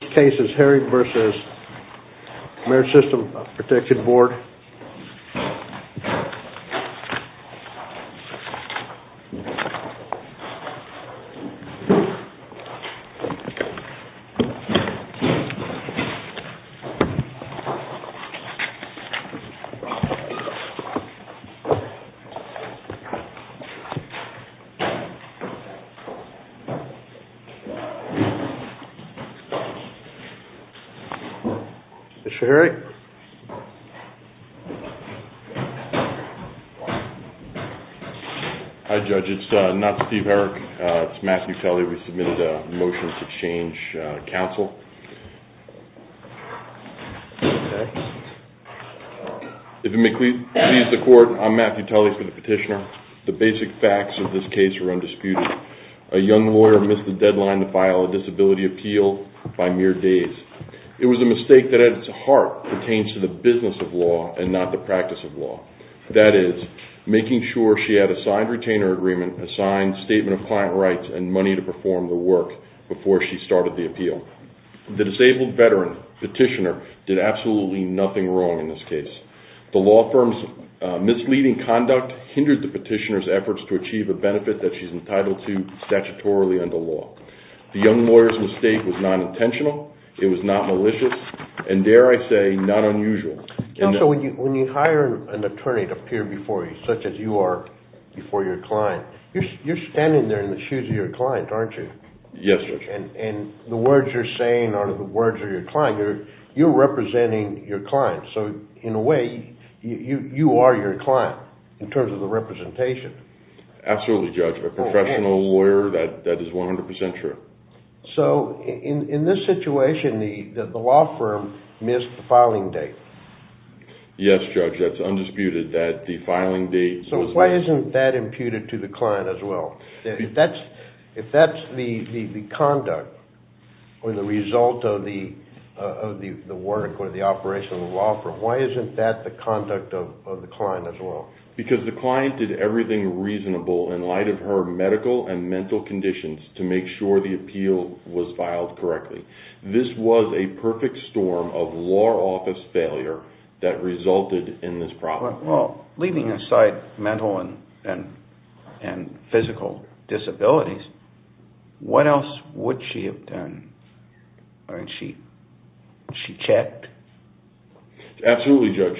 This case is Herring v. Ameri-System Protection Board. Mr. Herrick. Hi Judge, it's not Steve Herrick, it's Matthew Tully. We submitted a motion to change counsel. If you may please the court, I'm Matthew Tully, I'm the petitioner. The basic facts of this case are undisputed. A young lawyer missed the deadline to file a disability appeal by mere days. It was a mistake that at its heart pertains to the business of law and not the practice of law. That is, making sure she had a signed retainer agreement, a signed statement of client rights and money to perform the work before she started the appeal. The disabled veteran, petitioner, did absolutely nothing wrong in this case. The law firm's misleading conduct hindered the petitioner's efforts to achieve a benefit that she's entitled to statutorily under law. The young lawyer's mistake was not intentional, it was not malicious, and dare I say, not unusual. Counsel, when you hire an attorney to appear before you, such as you are before your client, you're standing there in the shoes of your client, aren't you? Yes, Judge. And the words you're saying are the words of your client. You're representing your client. So, in a way, you are your client, in terms of the representation. Absolutely, Judge. A professional lawyer, that is 100% true. So, in this situation, the law firm missed the filing date. Yes, Judge, that's undisputed, that the filing date was missed. Why isn't that imputed to the client as well? If that's the conduct or the result of the work or the operation of the law firm, why isn't that the conduct of the client as well? Because the client did everything reasonable in light of her medical and mental conditions to make sure the appeal was filed correctly. This was a perfect storm of law office failure that resulted in this problem. Well, leaving aside mental and physical disabilities, what else would she have done? She checked? Absolutely, Judge.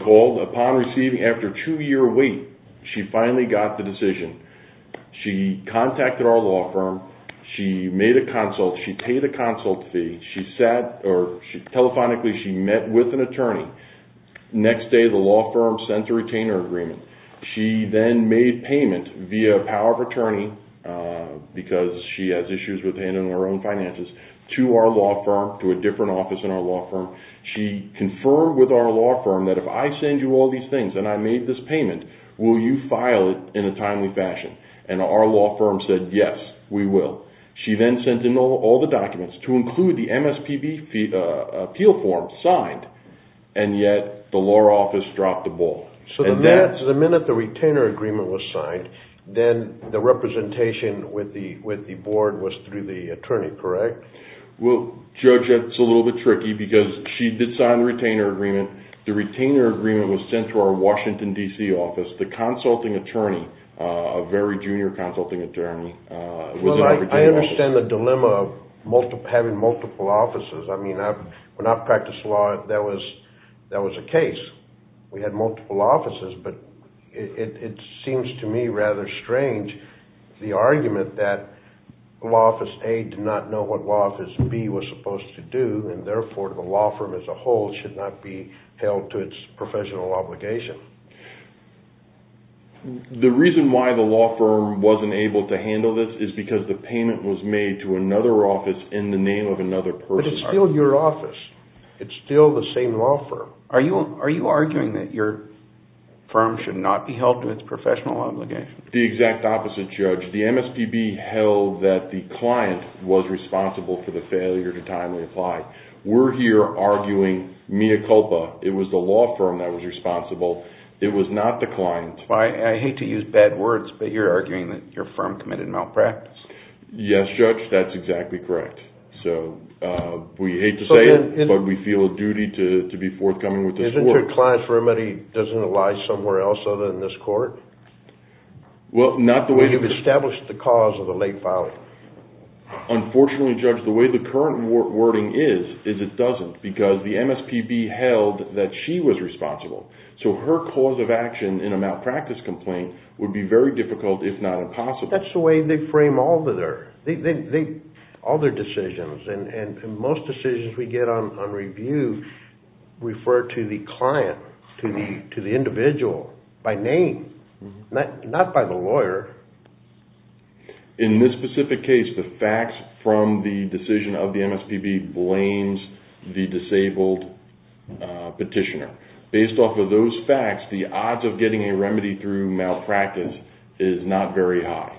Upon receiving, after a two-year wait, she finally got the decision. She contacted our law firm. She made a consult. She paid a consult fee. Telephonically, she met with an attorney. Next day, the law firm sent a retainer agreement. She then made payment via power of attorney, because she has issues with handling her own finances, to our law firm, to a different office in our law firm. She confirmed with our law firm that if I send you all these things and I made this payment, will you file it in a timely fashion? And our law firm said, yes, we will. She then sent in all the documents to include the MSPB appeal form signed, and yet the law office dropped the ball. So the minute the retainer agreement was signed, then the representation with the board was through the attorney, correct? Well, Judge, that's a little bit tricky, because she did sign the retainer agreement. The retainer agreement was sent to our Washington, D.C. office. The consulting attorney, a very junior consulting attorney... Well, I understand the dilemma of having multiple offices. I mean, when I practiced law, that was a case. We had multiple offices. But it seems to me rather strange, the argument that Law Office A did not know what Law Office B was supposed to do, and therefore the law firm as a whole should not be held to its professional obligation. The reason why the law firm wasn't able to handle this is because the payment was made to another office in the name of another person. But it's still your office. It's still the same law firm. Are you arguing that your firm should not be held to its professional obligation? The exact opposite, Judge. The MSPB held that the client was responsible for the failure to timely apply. We're here arguing mea culpa. It was the law firm that was responsible. It was not the client. I hate to use bad words, but you're arguing that your firm committed malpractice. Yes, Judge. That's exactly correct. So we hate to say it, but we feel a duty to be forthcoming with this court. So the client's remedy doesn't lie somewhere else other than this court? Well, not the way... You've established the cause of the late filing. Unfortunately, Judge, the way the current wording is, is it doesn't, because the MSPB held that she was responsible. So her cause of action in a malpractice complaint would be very difficult, if not impossible. That's the way they frame all their decisions. Most decisions we get on review refer to the client, to the individual, by name, not by the lawyer. In this specific case, the facts from the decision of the MSPB blames the disabled petitioner. Based off of those facts, the odds of getting a remedy through malpractice is not very high.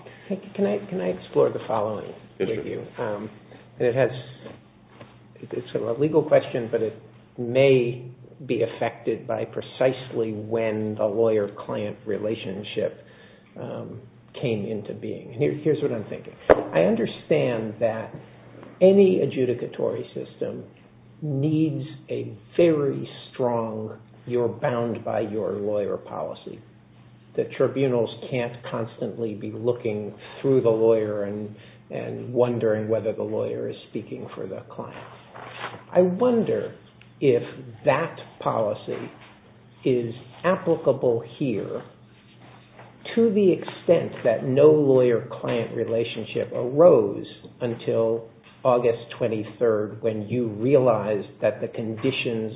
Can I explore the following with you? It's a legal question, but it may be affected by precisely when the lawyer-client relationship came into being. Here's what I'm thinking. I understand that any adjudicatory system needs a very strong you're-bound-by-your-lawyer policy. The tribunals can't constantly be looking through the lawyer and wondering whether the lawyer is speaking for the client. I wonder if that policy is applicable here to the extent that no lawyer-client relationship arose until August 23rd when you realized that the conditions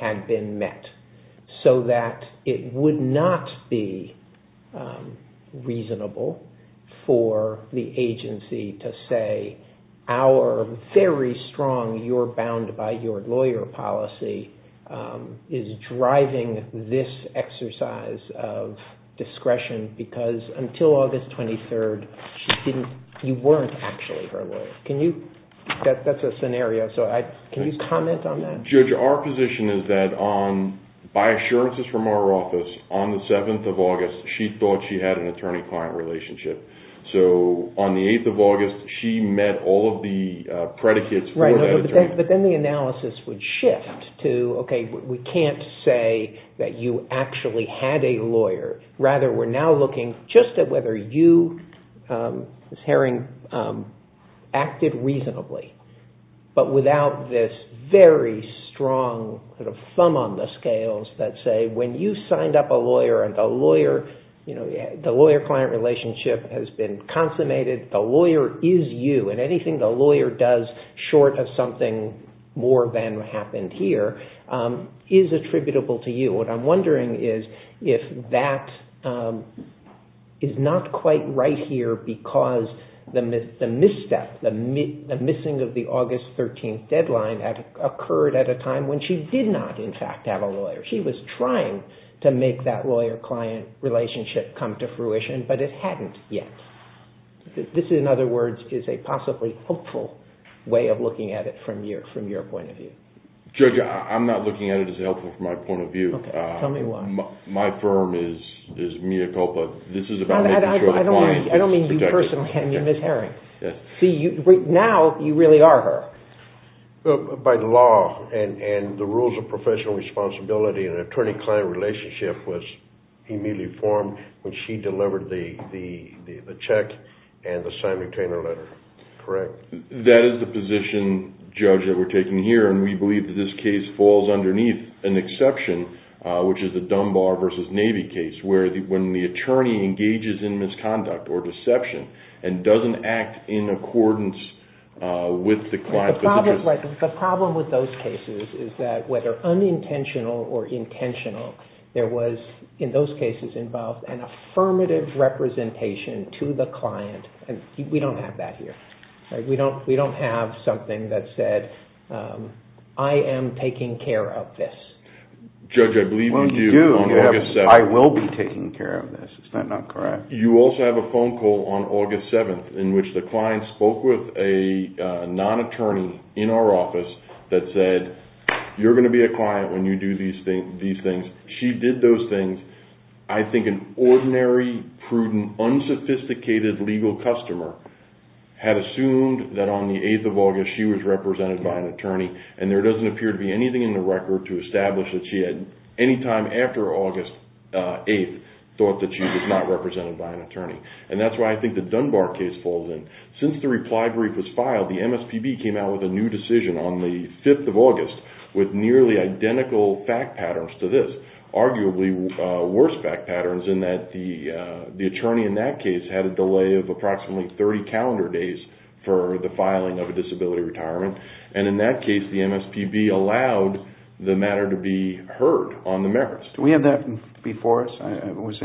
had been met so that it would not be reasonable for the agency to say our very strong you're-bound-by-your-lawyer policy is driving this exercise of discretion because until August 23rd you weren't actually her lawyer. That's a scenario. Can you comment on that? Judge, our position is that by assurances from our office, on the 7th of August, she thought she had an attorney-client relationship. On the 8th of August, she met all of the predicates. But then the analysis would shift to, okay, we can't say that you actually had a lawyer. Rather, we're now looking just at whether you acted reasonably but without this very strong thumb on the scales that say when you signed up a lawyer and the lawyer-client relationship has been consummated, the lawyer is you, and anything the lawyer does short of something more than happened here is attributable to you. What I'm wondering is if that is not quite right here because the misstep, the missing of the August 13th deadline occurred at a time when she did not in fact have a lawyer. She was trying to make that lawyer-client relationship come to fruition, but it hadn't yet. This, in other words, is a possibly hopeful way of looking at it from your point of view. Judge, I'm not looking at it as helpful from my point of view. Tell me why. My firm is mea culpa. I don't mean you personally. I mean Ms. Herring. Now you really are her. By law and the rules of professional responsibility, an attorney-client relationship was immediately formed when she delivered the check and the signed retainer letter, correct? That is the position, Judge, that we're taking here, and we believe that this case falls underneath an exception, which is the Dunbar v. Navy case, where when the attorney engages in misconduct or deception and doesn't act in accordance with the client. The problem with those cases is that whether unintentional or intentional, there was in those cases involved an affirmative representation to the client, and we don't have that here. We don't have something that said, I am taking care of this. Judge, I believe you do. I will be taking care of this. Is that not correct? You also have a phone call on August 7th in which the client spoke with a non-attorney in our office that said, you're going to be a client when you do these things. She did those things. I think an ordinary, prudent, unsophisticated legal customer had assumed that on the 8th of August she was represented by an attorney, and there doesn't appear to be anything in the record to establish that she at any time after August 8th thought that she was not represented by an attorney. That's why I think the Dunbar case falls in. Since the reply brief was filed, the MSPB came out with a new decision on the 5th of August with nearly identical fact patterns to this. Arguably worse fact patterns in that the attorney in that case had a delay of approximately 30 calendar days for the filing of a disability retirement. In that case, the MSPB allowed the matter to be heard on the merits. Do we have that before us? It was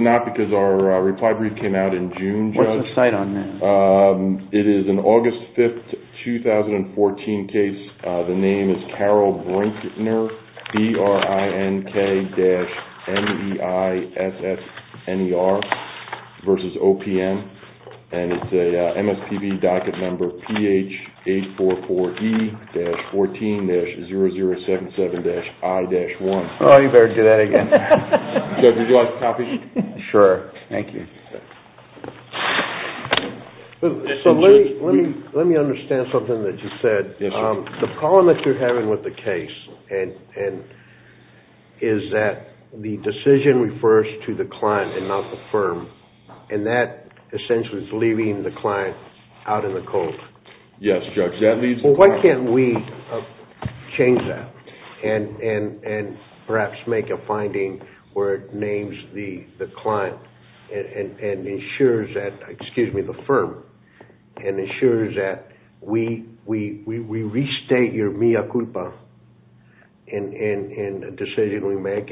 not because our reply brief came out in June, Judge. What's the cite on that? It is an August 5th 2014 case. The name is Carol Brinkner, B-R-I-N-K-N-E-I-S-S-N-E-R versus OPM. It's a MSPB docket number P-H-844-E-14-0077-I-1. You better do that again. Judge, would you like to copy? Sure. Thank you. Let me understand something that you said. The problem that you're having with the case is that the decision refers to the client and not the firm. That essentially is leaving the client out in the cold. Yes, Judge. Why can't we change that and perhaps make a finding where it names the client and ensures that, excuse me, the firm, and ensures that we restate your mea culpa in a decision we make?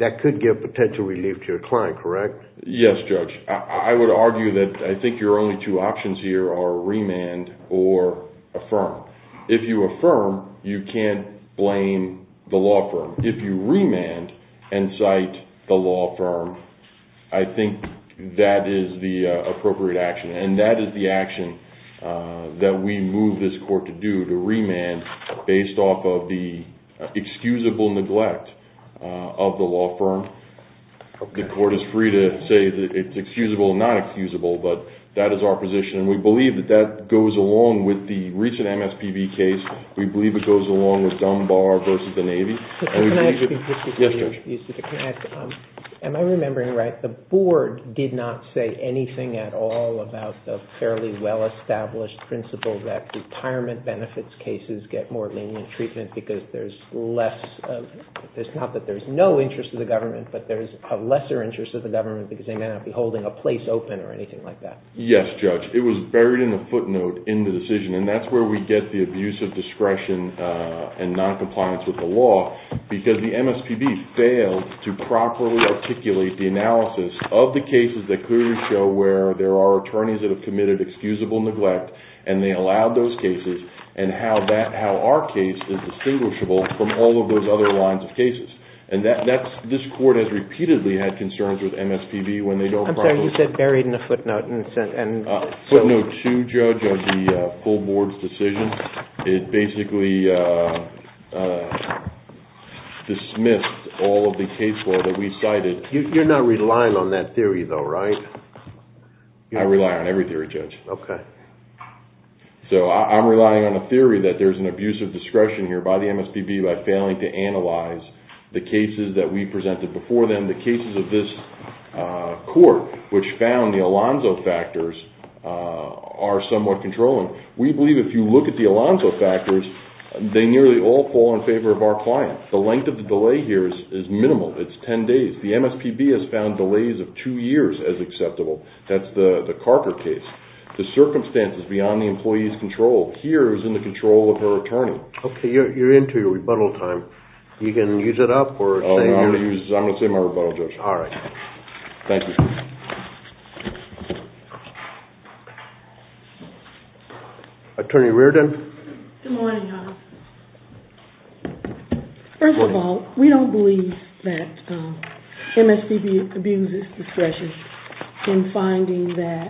That could give potential relief to your client, correct? Yes, Judge. I would argue that I think your only two options here are remand or affirm. If you affirm, you can't blame the law firm. If you remand and cite the law firm, I think that is the appropriate action. And that is the action that we move this court to do, to remand, based off of the excusable neglect of the law firm. The court is free to say that it's excusable or not excusable, but that is our position. And we believe that that goes along with the recent MSPB case. We believe it goes along with Dunbar versus the Navy. Am I remembering right? The board did not say anything at all about the fairly well-established principle that retirement benefits cases get more lenient treatment because there's less, not that there's no interest to the government, but there's a lesser interest to the government because they may not be holding a place open or anything like that. Yes, Judge. It was buried in the footnote in the decision. And that's where we get the abuse of discretion and noncompliance with the law because the MSPB failed to properly articulate the analysis of the cases that clearly show where there are attorneys that have committed excusable neglect and they allowed those cases and how our case is distinguishable from all of those other lines of cases. And this court has repeatedly had concerns with MSPB when they don't properly... I'm sorry, you said buried in the footnote. Footnote 2, Judge, of the full board's decision. It basically dismissed all of the case law that we cited. You're not relying on that theory though, right? I rely on every theory, Judge. So I'm relying on a theory that there's an abuse of discretion here by the MSPB by failing to analyze the cases that we presented before them, the cases of this court, which found the Alonzo factors are somewhat controlling. We believe if you look at the Alonzo factors, they nearly all fall in favor of our client. The length of the delay here is minimal. It's ten days. The MSPB has found delays of two years as acceptable. That's the Carper case. The circumstances beyond the employee's control here is in the control of her attorney. I'm going to say my rebuttal, Judge. All right. Thank you. Attorney Reardon? Good morning, Your Honor. First of all, we don't believe that MSPB abuses discretion in finding that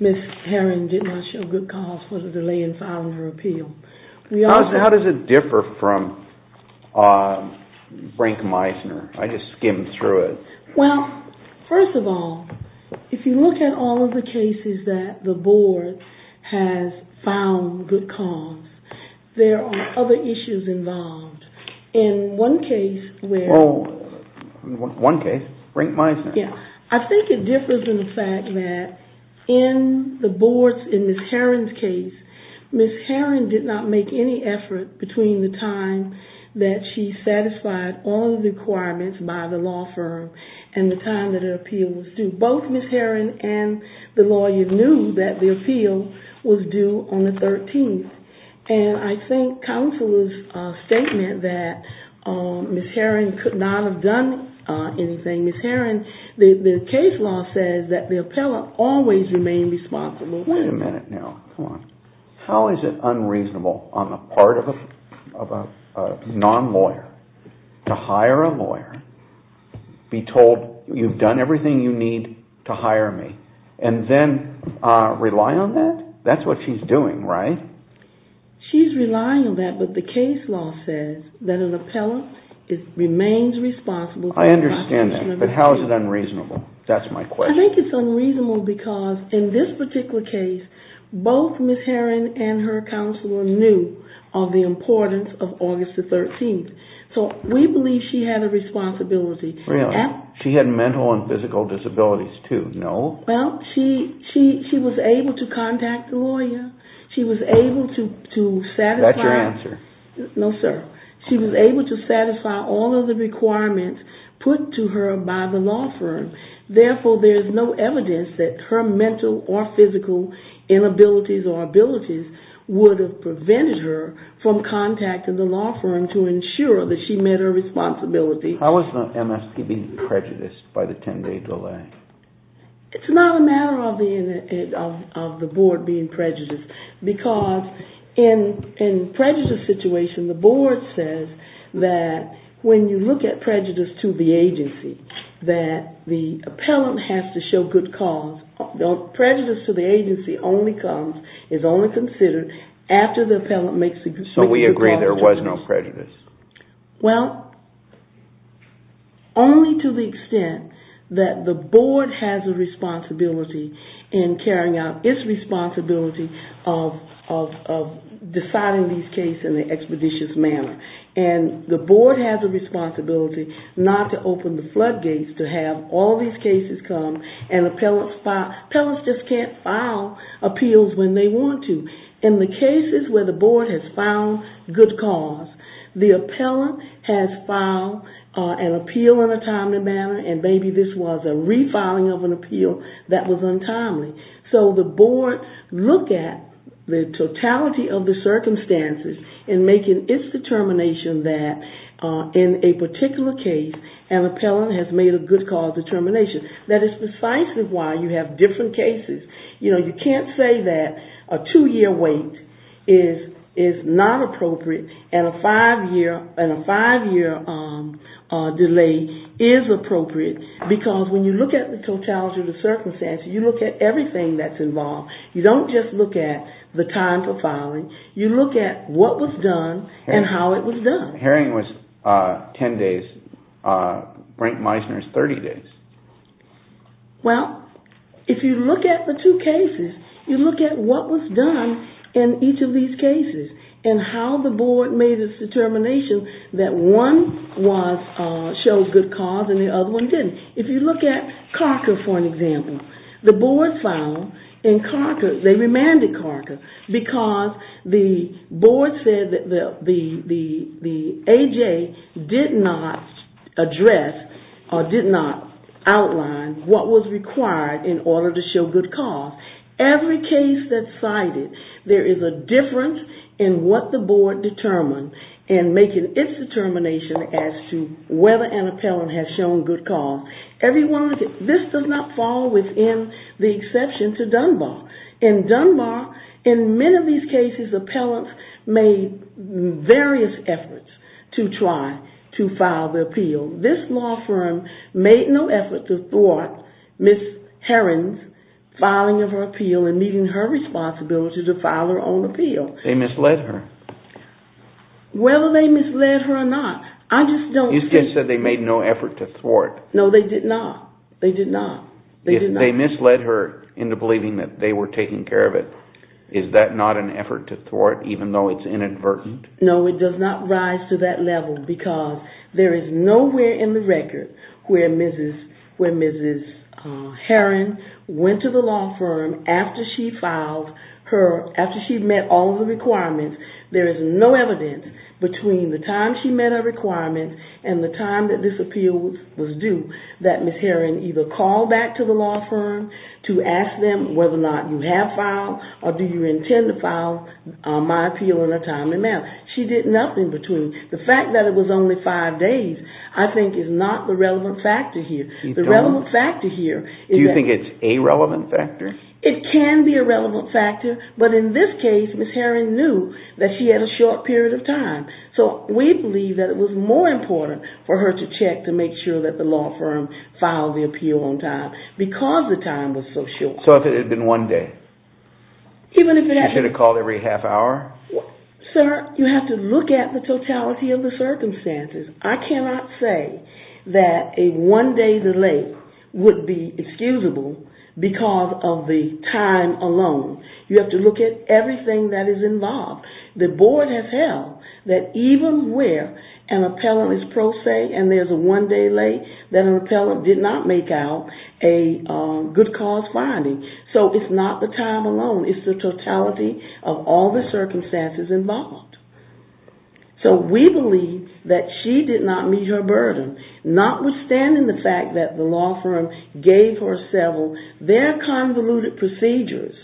Ms. Herron did not show good cause for the delay in filing her appeal. How does it differ from Brink-Meisner? I just skimmed through it. Well, first of all, if you look at all of the cases that the board has found good cause, there are other issues involved. In one case, Brink-Meisner. I think it differs in the fact that in the board's, in Ms. Herron's case, Ms. Herron did not make any effort between the time that she satisfied all the requirements by the law firm and the time that her appeal was due. Both Ms. Herron and the lawyer knew that the appeal was due on the 13th. I think Counselor's statement that Ms. Herron could not have done anything. Ms. Herron, the case law says that the appellant always remained responsible. Wait a minute now. How is it unreasonable on the part of a non-lawyer to hire a lawyer, be told, you've done everything you need to hire me, and then rely on that? That's what she's doing, right? She's relying on that, but the case law says that an appellant remains responsible. I understand that, but how is it unreasonable? That's my question. I think it's unreasonable because in this particular case, both Ms. Herron and her counselor knew of the importance of August the 13th. So we believe she had a responsibility. Really? She had mental and physical disabilities too, no? Well, she was able to contact the lawyer. She was able to satisfy... Is that your answer? No, sir. She was able to satisfy all of the requirements put to her by the law firm. Therefore, there is no evidence that her mental or physical inabilities or abilities would have prevented her from contacting the law firm to attend a delay. It's not a matter of the board being prejudiced, because in a prejudice situation, the board says that when you look at prejudice to the agency, that the appellant has to show good cause. Prejudice to the agency only comes, is only considered after the appellant makes a good... So we agree there was no prejudice? Well, only to the extent that the board has a responsibility in carrying out its responsibility of deciding these cases in an expeditious manner. And the board has a responsibility not to open the floodgates to have all these cases come and appellants just can't file appeals when they want to. In the cases where the board has filed good cause, the appellant has filed an appeal in a timely manner and maybe this was a refiling of an appeal that was untimely. So the board looks at the totality of the circumstances in making its determination that in a particular case, an appellant has made a good cause determination. That is precisely why you have different cases. You can't say that a two-year wait is not appropriate and a five-year delay is appropriate, because when you look at the totality of the circumstances, you look at everything that's involved. You don't just look at the time for filing, you look at what was done and how it was done. Herring was 10 days. Brink-Meisner is 30 days. Well, if you look at the two cases, you look at what was done in each of these cases and how the board made its determination that one showed good cause and the other one didn't. If you look at Carker, for example, the board filed in Carker, they remanded because the board said that the A.J. did not address or did not outline what was required in order to show good cause. Every case that's cited, there is a difference in what the board determined in making its determination as to whether an appellant has shown good cause. This does not fall within the exception to Dunbar. In Dunbar, in many of these cases, appellants made various efforts to try to file the appeal. This law firm made no effort to thwart Ms. Herring's filing of her appeal and meeting her responsibility to file her own appeal. They misled her. Whether they misled her or not, I just don't think... You just said they made no effort to thwart. No, they did not. They did not. If they misled her into believing that they were taking care of it, is that not an effort to thwart even though it's inadvertent? No, it does not rise to that level because there is nowhere in the record where Mrs. Herring went to the law firm after she met all the requirements. There is no evidence between the time she met her requirements and the time that this appeal was due that Ms. Herring either called back to the law firm to ask them whether or not you have filed or do you intend to file my appeal on a timely manner. She did nothing between. The fact that it was only five days, I think, is not the relevant factor here. Do you think it's a relevant factor? It can be a relevant factor, but in this case, Ms. Herring knew that she had a short period of time. So we believe that it was more important for her to check to make sure that the law firm filed the appeal on time because the time was so short. So if it had been one day? She should have called every half hour? Sir, you have to look at the totality of the circumstances. I cannot say that a one day delay would be excusable because of the time alone. You have to look at everything that is involved. The board has held that even where an appellant is pro se and there is a one day delay, that an appellant did not make out a good cause So it's not the time alone. It's the totality of all the circumstances involved. So we believe that she did not meet her burden. Notwithstanding the fact that the law firm gave her several, their convoluted procedures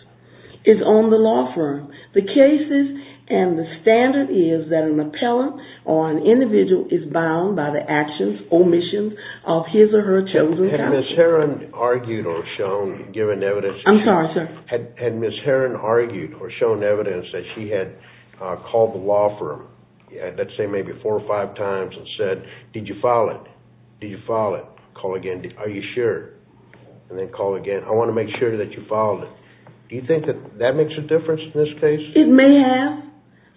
is on the law firm. The cases and the standard is that an appellant or an individual is bound by the actions or omissions of his or her chosen counsel. Had Ms. Heron argued or shown evidence that she had called the law firm, let's say maybe four or five times and said, did you file it? Did you file it? Call again. Are you sure? And then call again. I want to make sure that you filed it. Do you think that makes a difference in this case? It may have.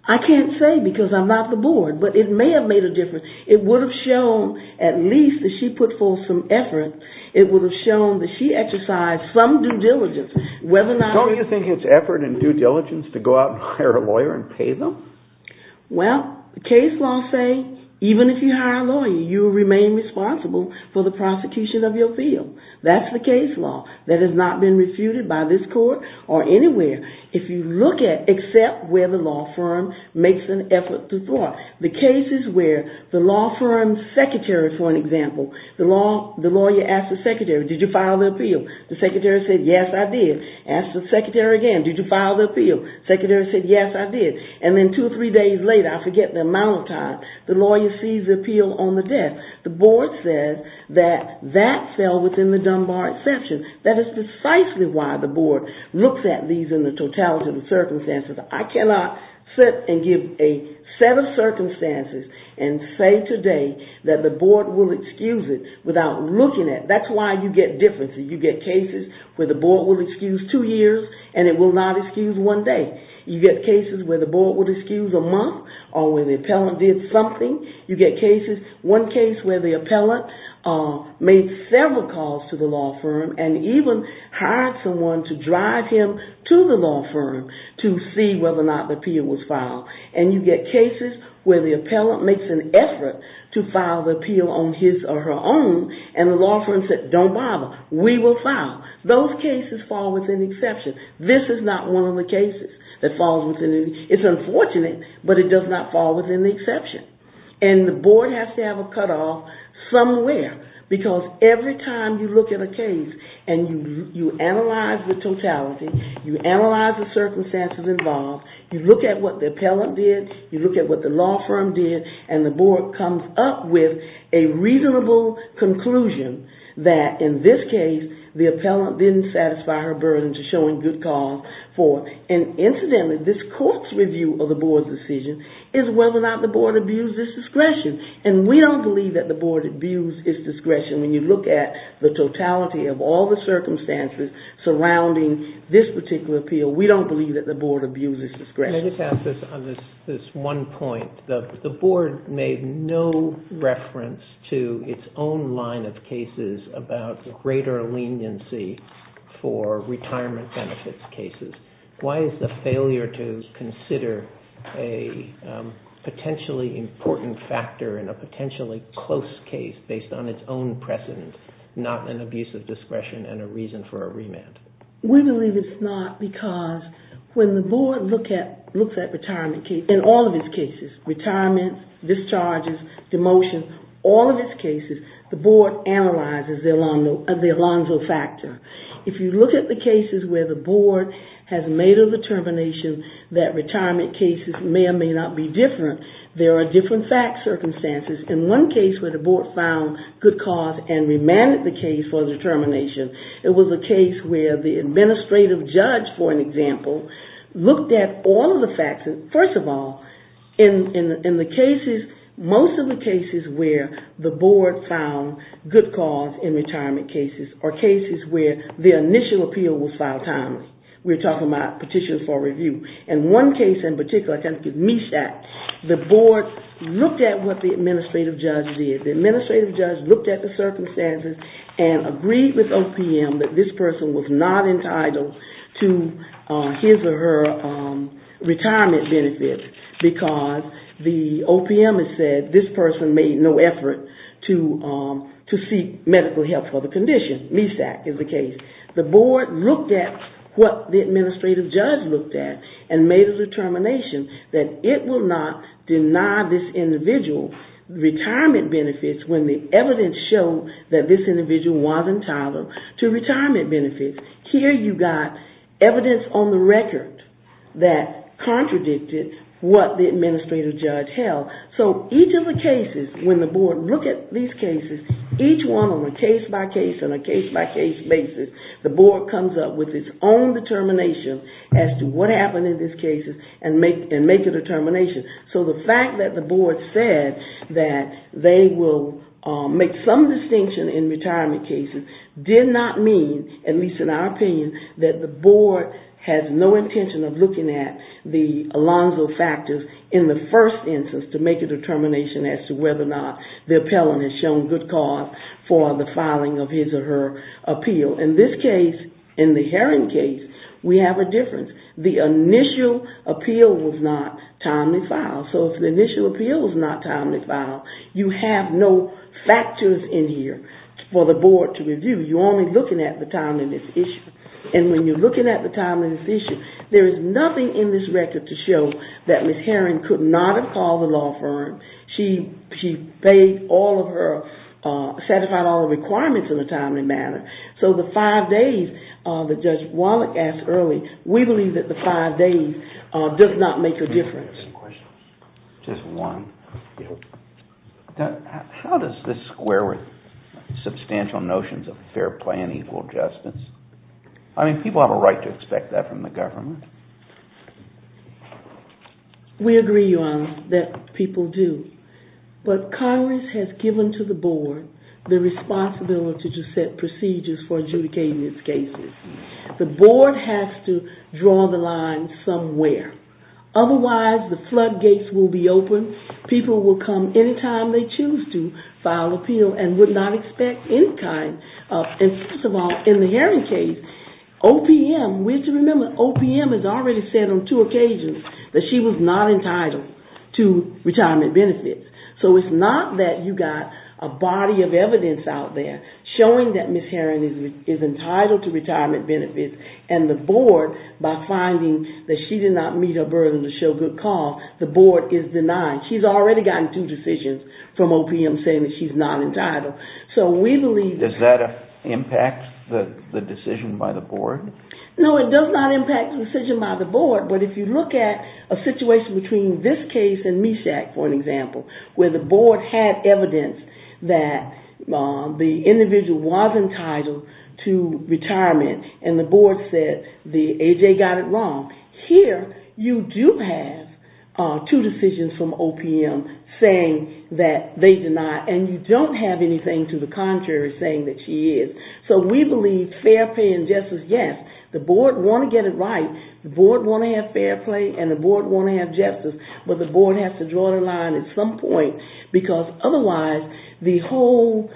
I can't say because I'm not the board, but it may have made a difference. It would have shown at least that she put forth some effort. It would have shown that she exercised some due diligence. Don't you think it's effort and due diligence to go out and hire a lawyer and pay them? Well, case law say even if you hire a lawyer, you remain responsible for the prosecution of your field. That's the case law. That has not been refuted by this court or anywhere if you look at except where the law firm makes an effort to thwart. The cases where the law firm secretary, for an example, the lawyer asks the secretary, did you file the appeal? The secretary says, yes, I did. Asks the secretary again, did you file the appeal? The secretary says, yes, I did. And then two or three days later, I forget the amount of time, the lawyer sees the appeal on the desk. The board says that that fell within the Dunbar exception. That is precisely why the board looks at these in the totality of the circumstances. I cannot sit and give a set of circumstances and say today that the board will excuse it without looking at it. That's why you get differences. You get cases where the board will excuse two years and it will not excuse one day. You get cases where the board will excuse a month or where the appellant did something. You get cases, one case where the appellant made several calls to the law firm and even hired someone to drive him to the law firm to see whether or not the appeal was filed. And you get cases where the appellant makes an effort to file the appeal on his or her own and the law firm says, don't bother, we will file. Those cases fall within the exception. This is not one of the cases that falls within the exception. It's unfortunate, but it does not fall within the exception. And the board has to have a cutoff somewhere because every time you look at a case and you analyze the totality, you analyze the circumstances involved, you look at what the appellant did, you look at what the law firm did, and the board comes up with a reasonable conclusion that in this case, the appellant didn't satisfy her burden to showing good cause. And incidentally, this court's review of the board's decision is whether or not the board abused its discretion. And we don't believe that the board abused its discretion. When you look at the totality of all the circumstances surrounding this particular appeal, we don't believe that the board abused its discretion. I just have this one point. The board made no reference to its own line of cases about greater leniency for retirement benefits cases. Why is the failure to consider a potentially important factor in a potentially close case based on its own precedent, not an abuse of discretion and a reason for a remand? We believe it's not because when the board looks at retirement cases, in all of its cases, retirement, discharges, demotion, all of its cases, the board analyzes the Alonzo factor. If you look at the cases where the board has made a determination that retirement cases may or may not be different, there are different fact circumstances. In one case where the administrative judge, for an example, looked at all of the factors, first of all, in the cases, most of the cases where the board found good cause in retirement cases are cases where the initial appeal was filed timely. We're talking about petitions for review. In one case in particular, the board looked at what the administrative judge did. The administrative judge looked at the circumstances and agreed with OPM that this person was not entitled to his or her retirement benefit because the OPM has said this person made no effort to seek medical help for the condition. MESAC is the case. The board looked at what the administrative judge looked at and made a determination that it will not deny this individual retirement benefits when the evidence showed that this individual wasn't entitled to retirement benefits. Here you got evidence on the record that contradicted what the administrative judge held. So each of the cases, when the board looked at these cases, each one on a case-by-case and a case-by-case basis, the board comes up with its own determination as to what happened in these cases and make a determination. So the fact that the board said that they will make some distinction in retirement cases did not mean, at least in our opinion, that the board has no intention of looking at the Alonzo factors in the first instance to make a determination as to whether or not the appellant has shown good cause for the filing of his or her appeal. In this case, in the Heron case, we have a difference. The initial appeal was not timely filed. So if the initial appeal was not timely filed, you have no factors in here for the board to review. You're only looking at the timeliness issue. And when you're looking at the timeliness issue, there is nothing in this record to show that satisfied all the requirements in a timely manner. So the five days that Judge Wallach asked early, we believe that the five days does not make a difference. Just one. How does this square with substantial notions of fair play and equal justice? I mean, people have a right to expect that from the government. We agree, Your Honor, that people do. But Congress has given to the board the responsibility to set procedures for adjudicating its cases. The board has to draw the line somewhere. Otherwise, the floodgates will be open. People will come anytime they choose to file appeal and would not expect any kind of And first of all, in the Heron case, OPM, we have to remember, OPM has already said on two occasions that she was not entitled to retirement benefits. So it's not that you've got a body of evidence out there showing that Ms. Heron is entitled to retirement benefits and the board, by finding that she did not meet her burden to show good cause, the board is denying. She's already gotten two Does that impact the decision by the board? No, it does not impact the decision by the board, but if you look at a situation between this case and MESHAC, for an example, where the board had evidence that the individual was entitled to retirement and the board said the A.J. got it wrong, here you do have two decisions from So we believe fair play and justice, yes, the board want to get it right, the board want to have fair play and the board want to have justice, but the board has to draw the line at some point because otherwise the whole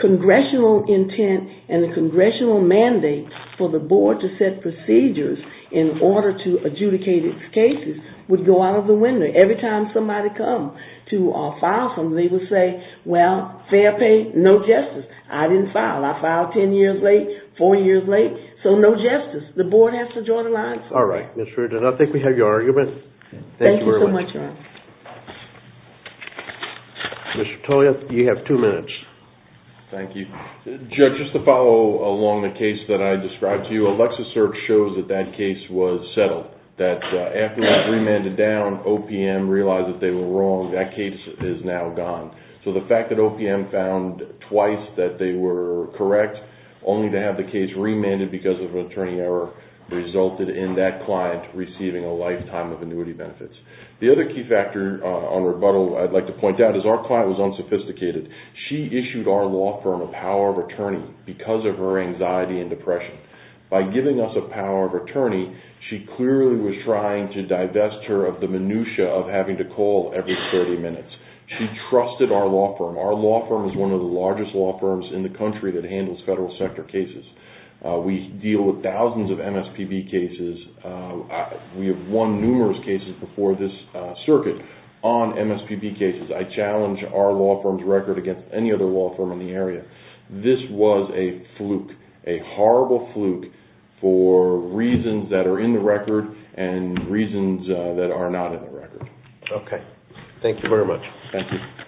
congressional intent and the congressional mandate for the board to set procedures in order to adjudicate its cases would go out of the window. Every time somebody comes to file something, they will say, well, fair play, no justice. I didn't file. I filed ten years late, four years late, so no justice. The board has to draw the line. Thank you so much, Ron. Judge, just to follow along the case that I described to you, the Alexa search shows that that case was settled, that after it was remanded down, OPM realized that they were wrong. That case is now gone. So the fact that OPM found twice that they were correct, only to have the case remanded because of an attorney error, resulted in that client receiving a lifetime of annuity benefits. The other key factor on rebuttal I'd like to point out is our client was unsophisticated. She issued our law firm a power of attorney because of her anxiety and depression. By giving us a power of attorney, she clearly was trying to divest her of the minutia of having to call every 30 minutes. She trusted our law firm. Our law firm is one of the largest law firms in the country that handles federal sector cases. We deal with thousands of MSPB cases. We have won numerous cases before this circuit on MSPB cases. I challenge our law firm's record against any other law firm in the area. This was a fluke, a horrible fluke for reasons that are in the record and reasons that are not in the record. Okay. Thank you very much.